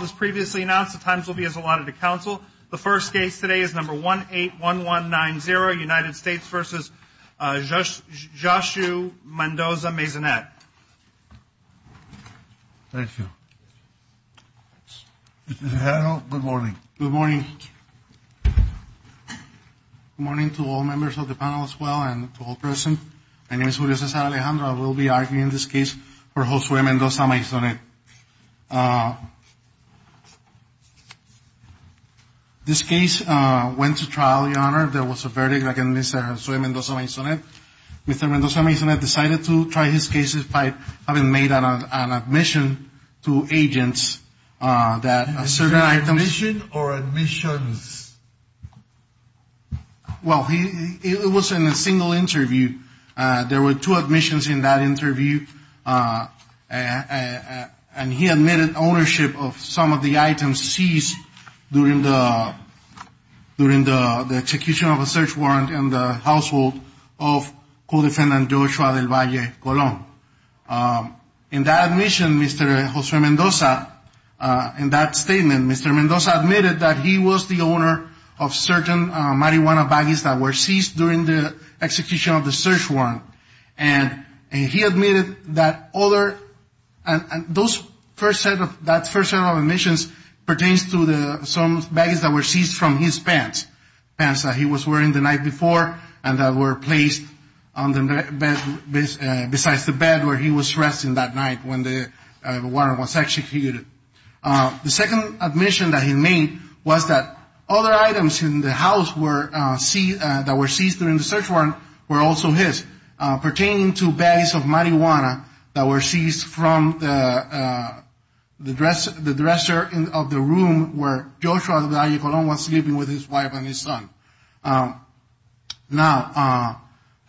As previously announced, the times will be as allotted to counsel. The first case today is number 181190, United States v. Joshua Mendoza-Maisonet. Thank you. Mr. General, good morning. Good morning. Good morning to all members of the panel as well and to all present. My name is Julio Cesar Alejandro. I will be arguing this case for Joshua Mendoza-Maisonet. This case went to trial, Your Honor. There was a verdict against Joshua Mendoza-Maisonet. Mr. Mendoza-Maisonet decided to try his cases by having made an admission to agents that a certain item… Is it an admission or admissions? Well, it was in a single interview. There were two admissions in that interview. And he admitted ownership of some of the items seized during the execution of a search warrant in the household of Co-Defendant Joshua del Valle Colon. In that admission, Mr. Joshua Mendoza, in that statement, Mr. Mendoza admitted that he was the owner of certain marijuana baggies that were seized during the execution of the search warrant. And he admitted that those first set of admissions pertains to some baggies that were seized from his pants. Pants that he was wearing the night before and that were placed besides the bed where he was resting that night when the warrant was executed. The second admission that he made was that other items in the house that were seized during the search warrant were also his, pertaining to baggies of marijuana that were seized from the dresser of the room where Joshua del Valle Colon was sleeping with his wife and his son. Now,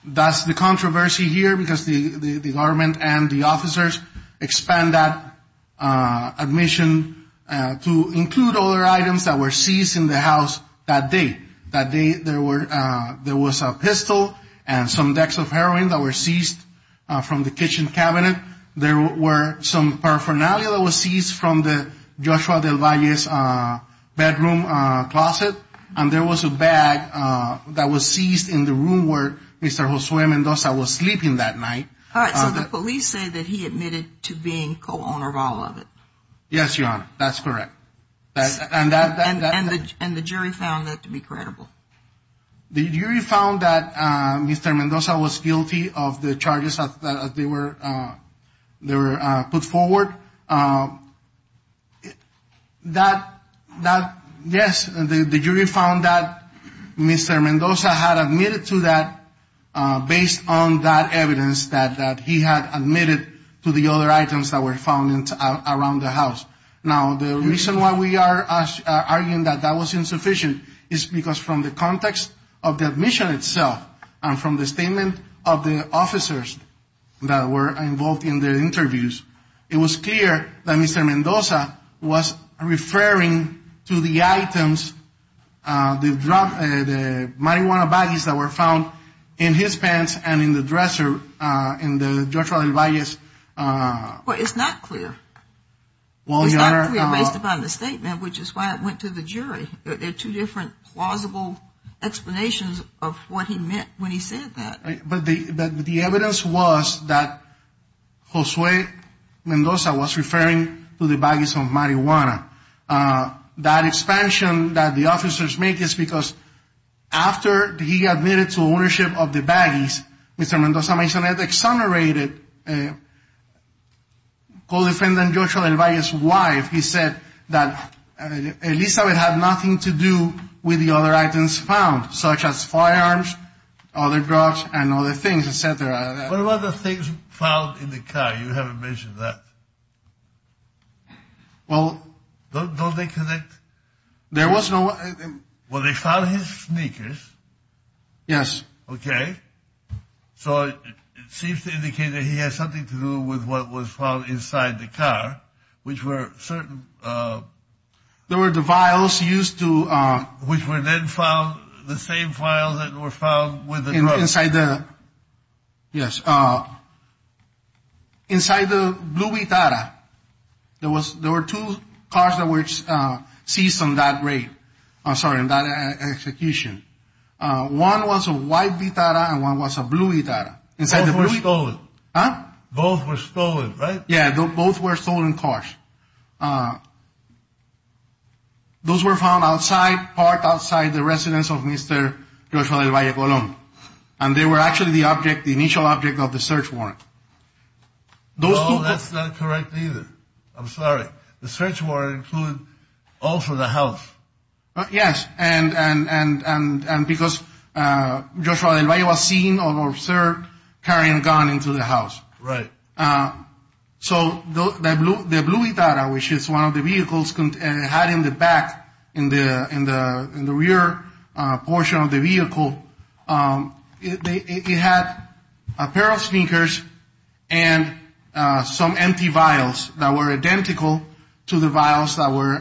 that's the controversy here because the government and the officers expand that admission to include other items that were seized in the house that day. That day, there was a pistol and some decks of heroin that were seized from the kitchen cabinet. There were some paraphernalia that were seized from the Joshua del Valle's bedroom closet. And there was a bag that was seized in the room where Mr. Josue Mendoza was sleeping that night. All right, so the police say that he admitted to being co-owner of all of it. Yes, Your Honor, that's correct. And the jury found that to be credible? The jury found that Mr. Mendoza was guilty of the charges that they were put forward. That, yes, the jury found that Mr. Mendoza had admitted to that based on that evidence that he had admitted to the other items that were found around the house. Now, the reason why we are arguing that that was insufficient is because from the context of the admission itself and from the statement of the officers that were involved in the interviews, it was clear that Mr. Mendoza was referring to the items, the marijuana baggies that were found in his pants and in the dresser in the Joshua del Valle's. Well, it's not clear. Well, Your Honor. It's not clear based upon the statement, which is why it went to the jury. There are two different plausible explanations of what he meant when he said that. But the evidence was that Josue Mendoza was referring to the baggies of marijuana. That expansion that the officers made is because after he admitted to ownership of the baggies, Mr. Mendoza may have exonerated Co-Defendant Joshua del Valle's wife. He said that Elizabeth had nothing to do with the other items found, such as firearms, other drugs and other things, etc. What about the things found in the car? You haven't mentioned that. Well. Don't they connect? There was no. Well, they found his sneakers. Yes. Okay. So it seems to indicate that he has something to do with what was found inside the car, which were certain. There were the vials used to. Which were then found, the same vials that were found with the drugs. Inside the. Yes. Inside the blue Vitara. There were two cars that were seized on that raid. I'm sorry, on that execution. One was a white Vitara and one was a blue Vitara. Both were stolen. Huh? Both were stolen, right? Yeah, both were stolen cars. Those were found outside, parked outside the residence of Mr. Joshua del Valle Colon. And they were actually the object, the initial object of the search warrant. No, that's not correct either. I'm sorry. The search warrant included also the house. Yes. And because Joshua del Valle was seen or observed carrying a gun into the house. Right. So the blue Vitara, which is one of the vehicles had in the back, in the rear portion of the vehicle, it had a pair of sneakers and some empty vials that were identical to the vials that were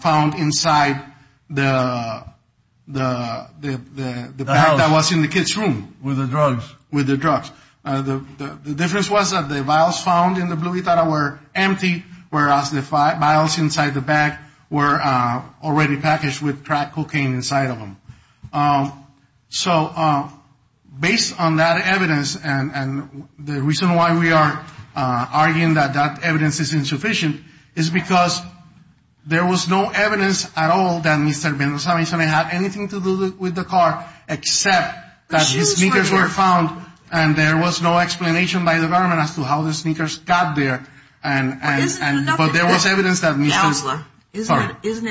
found inside the bag that was in the kid's room. With the drugs. With the drugs. The difference was that the vials found in the blue Vitara were empty. Whereas the vials inside the bag were already packaged with crack cocaine inside of them. So based on that evidence, and the reason why we are arguing that that evidence is insufficient, is because there was no evidence at all that Mr. Mendoza may have anything to do with the car, except that his sneakers were found and there was no explanation by the government as to how the sneakers got there. But isn't it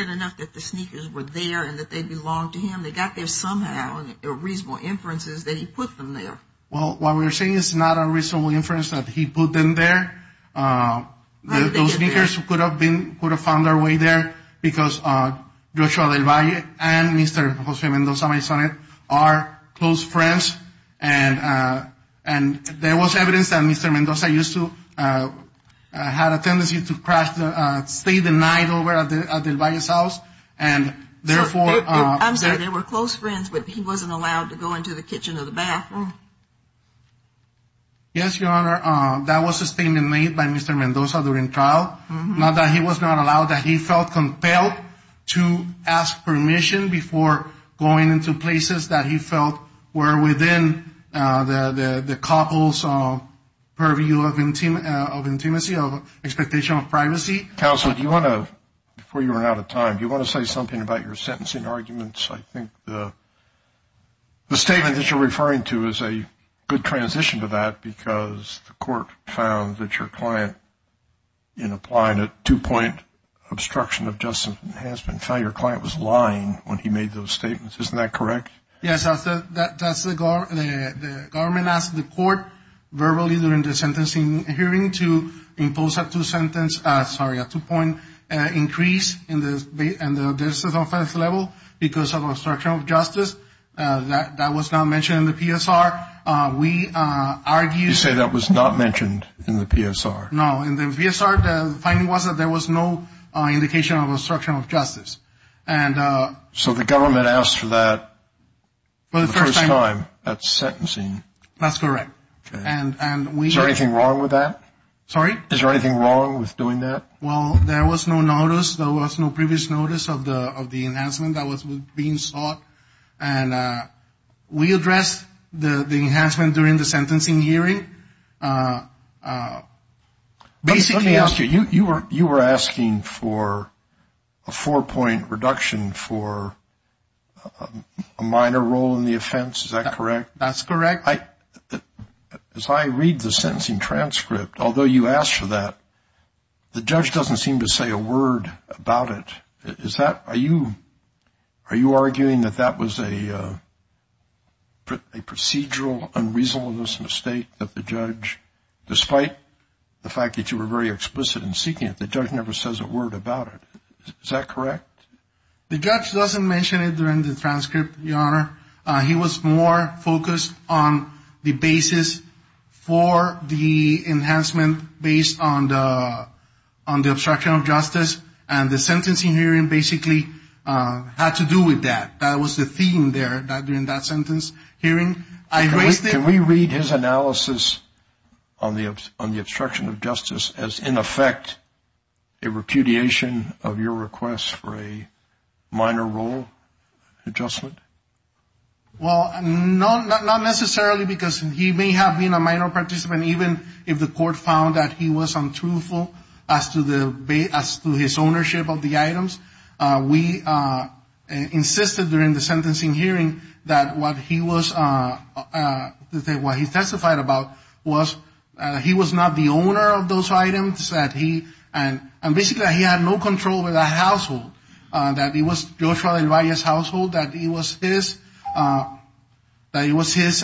enough that the sneakers were there and that they belonged to him? They got there somehow, and there were reasonable inferences that he put them there. Well, what we're saying is not a reasonable inference that he put them there. Those sneakers could have found their way there because Joshua del Valle and Mr. Jose Mendoza are close friends. And there was evidence that Mr. Mendoza used to have a tendency to stay the night over at del Valle's house. I'm sorry, they were close friends, but he wasn't allowed to go into the kitchen or the bathroom. Yes, Your Honor. That was a statement made by Mr. Mendoza during trial. Not that he was not allowed. That he felt compelled to ask permission before going into places that he felt were within the couple's purview of intimacy, of expectation of privacy. Counsel, do you want to, before you run out of time, do you want to say something about your sentencing arguments? I think the statement that you're referring to is a good transition to that because the court found that your client, in applying a two-point obstruction of justice enhancement, found your client was lying when he made those statements. Isn't that correct? Yes. The government asked the court verbally during the sentencing hearing to impose a two-point increase in the offense level because of obstruction of justice. That was not mentioned in the PSR. You say that was not mentioned in the PSR. No. In the PSR, the finding was that there was no indication of obstruction of justice. So the government asked for that the first time at sentencing. That's correct. Is there anything wrong with that? Sorry? Is there anything wrong with doing that? Well, there was no notice. There was no previous notice of the enhancement that was being sought. We addressed the enhancement during the sentencing hearing. Let me ask you, you were asking for a four-point reduction for a minor role in the offense. Is that correct? That's correct. As I read the sentencing transcript, although you asked for that, the judge doesn't seem to say a word about it. Are you arguing that that was a procedural, unreasonable mistake of the judge? Despite the fact that you were very explicit in seeking it, the judge never says a word about it. Is that correct? The judge doesn't mention it during the transcript, Your Honor. He was more focused on the basis for the enhancement based on the obstruction of justice and the sentencing hearing basically had to do with that. That was the theme there during that sentence hearing. Can we read his analysis on the obstruction of justice as, in effect, a repudiation of your request for a minor role adjustment? Well, not necessarily because he may have been a minor participant, and even if the court found that he was untruthful as to his ownership of the items, we insisted during the sentencing hearing that what he testified about was that he was not the owner of those items, and basically that he had no control over that household, that it was Joshua del Valle's household, that it was his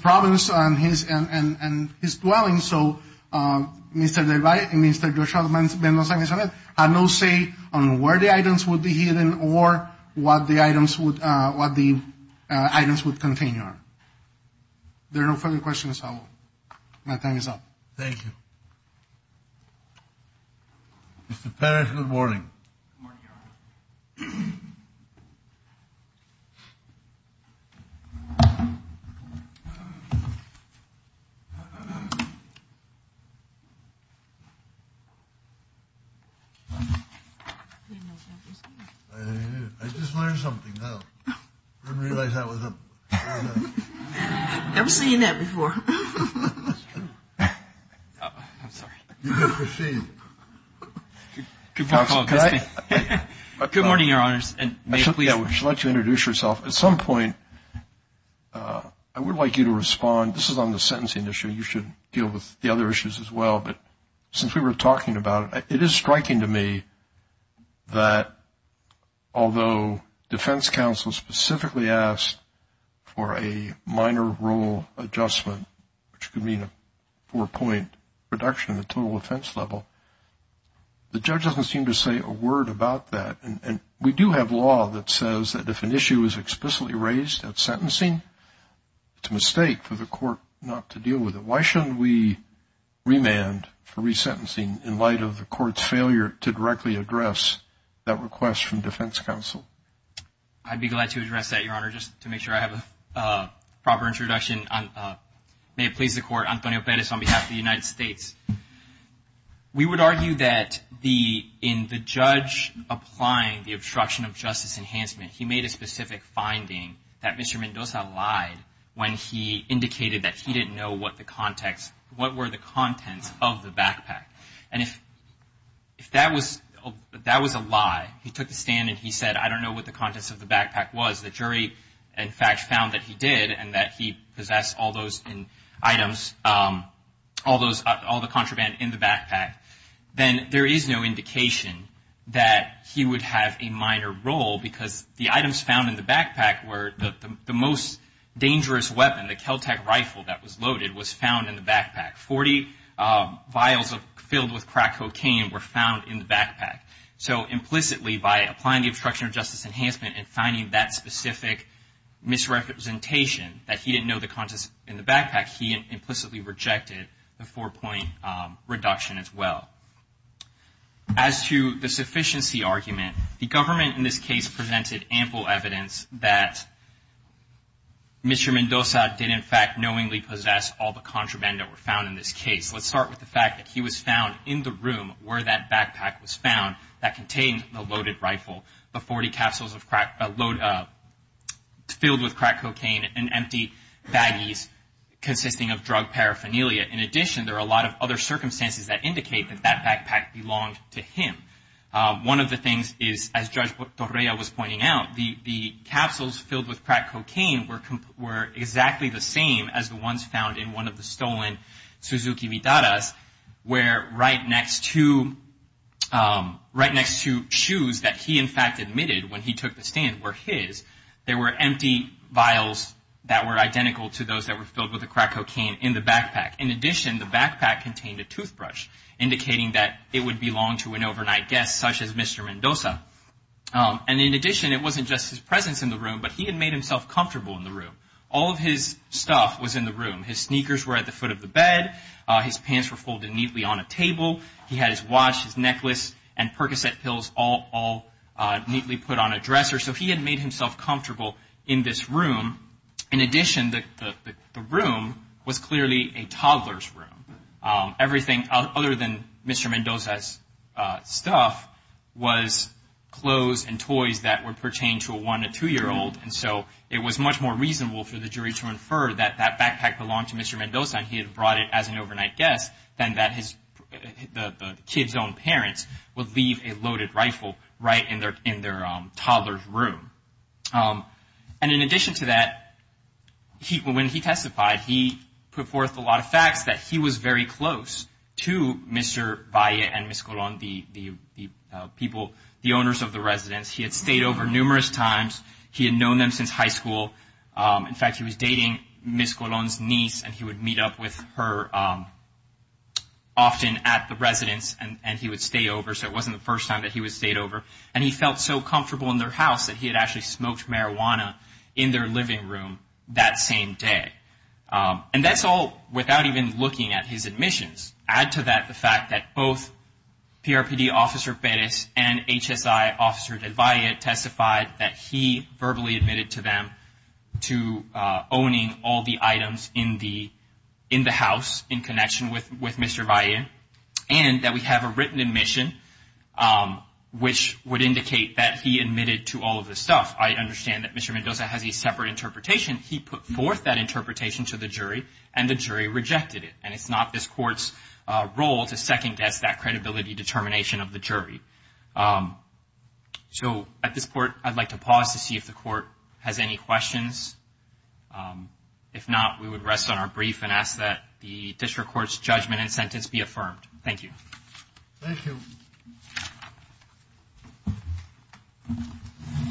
province and his dwelling. So Mr. del Valle and Mr. Joshua Del Valle had no say on where the items would be hidden or what the items would contain. Are there no further questions? My time is up. Thank you. Mr. Parrish, good morning. Good morning, Your Honor. I just learned something. I didn't realize that was up. I've never seen that before. That's true. I'm sorry. Good morning, Your Honors. I should let you introduce yourself. At some point I would like you to respond. This is on the sentencing issue. You should deal with the other issues as well, but since we were talking about it, it is striking to me that although defense counsel specifically asked for a minor rule adjustment, which could mean a four-point reduction in the total offense level, the judge doesn't seem to say a word about that. And we do have law that says that if an issue is explicitly raised at sentencing, it's a mistake for the court not to deal with it. Why shouldn't we remand for resentencing in light of the court's failure to directly address that request from defense counsel? I'd be glad to address that, Your Honor, just to make sure I have a proper introduction. May it please the Court, Antonio Perez on behalf of the United States. We would argue that in the judge applying the obstruction of justice enhancement, he made a specific finding that Mr. Mendoza lied when he indicated that he didn't know what the context, what were the contents of the backpack. And if that was a lie, he took the stand and he said, I don't know what the contents of the backpack was. The jury, in fact, found that he did and that he possessed all those items, all the contraband in the backpack. Then there is no indication that he would have a minor role because the items found in the backpack were the most dangerous weapon. The Kel-Tec rifle that was loaded was found in the backpack. Forty vials filled with crack cocaine were found in the backpack. So implicitly by applying the obstruction of justice enhancement and finding that specific misrepresentation that he didn't know the four-point reduction as well. As to the sufficiency argument, the government in this case presented ample evidence that Mr. Mendoza did, in fact, knowingly possess all the contraband that were found in this case. Let's start with the fact that he was found in the room where that backpack was found that contained the loaded rifle, the 40 capsules filled with crack cocaine, and empty baggies consisting of drug paraphernalia. In addition, there are a lot of other circumstances that indicate that that backpack belonged to him. One of the things is, as Judge Torrea was pointing out, the capsules filled with crack cocaine were exactly the same as the ones found in one of the stolen Suzuki Vidadas, where right next to shoes that he in fact admitted when he took the stand were his, there were empty vials that were identical to those that were filled with the crack cocaine in the backpack. In addition, the backpack contained a toothbrush, indicating that it would belong to an overnight guest such as Mr. Mendoza. And in addition, it wasn't just his presence in the room, but he had made himself comfortable in the room. All of his stuff was in the room. His sneakers were at the foot of the bed. His pants were folded neatly on a table. He had his watch, his necklace, and Percocet pills all neatly put on a dresser. So he had made himself comfortable in this room. In addition, the room was clearly a toddler's room. Everything other than Mr. Mendoza's stuff was clothes and toys that would pertain to a one- to two-year-old. And so it was much more reasonable for the jury to infer that that backpack belonged to Mr. Mendoza and he had brought it as an overnight guest than that the kid's own parents would leave a loaded rifle right in their toddler's room. And in addition to that, when he testified, he put forth a lot of facts that he was very close to Mr. Valle and Ms. Colon, the owners of the residence. He had stayed over numerous times. He had known them since high school. In fact, he was dating Ms. Colon's niece, and he would meet up with her often at the residence, and he would stay over. So it wasn't the first time that he had stayed over. And he felt so comfortable in their house that he had actually smoked marijuana in their living room that same day. And that's all without even looking at his admissions. Add to that the fact that both PRPD Officer Perez and HSI Officer Del Valle testified that he verbally admitted to them to owning all the items in the house in connection with Mr. Valle and that we have a written admission, which would indicate that he admitted to all of this stuff. I understand that Mr. Mendoza has a separate interpretation. He put forth that interpretation to the jury, and the jury rejected it. And it's not this court's role to second-guess that credibility determination of the jury. So at this point, I'd like to pause to see if the court has any questions. If not, we would rest on our brief and ask that the district court's judgment and sentence be affirmed. Thank you. Thank you.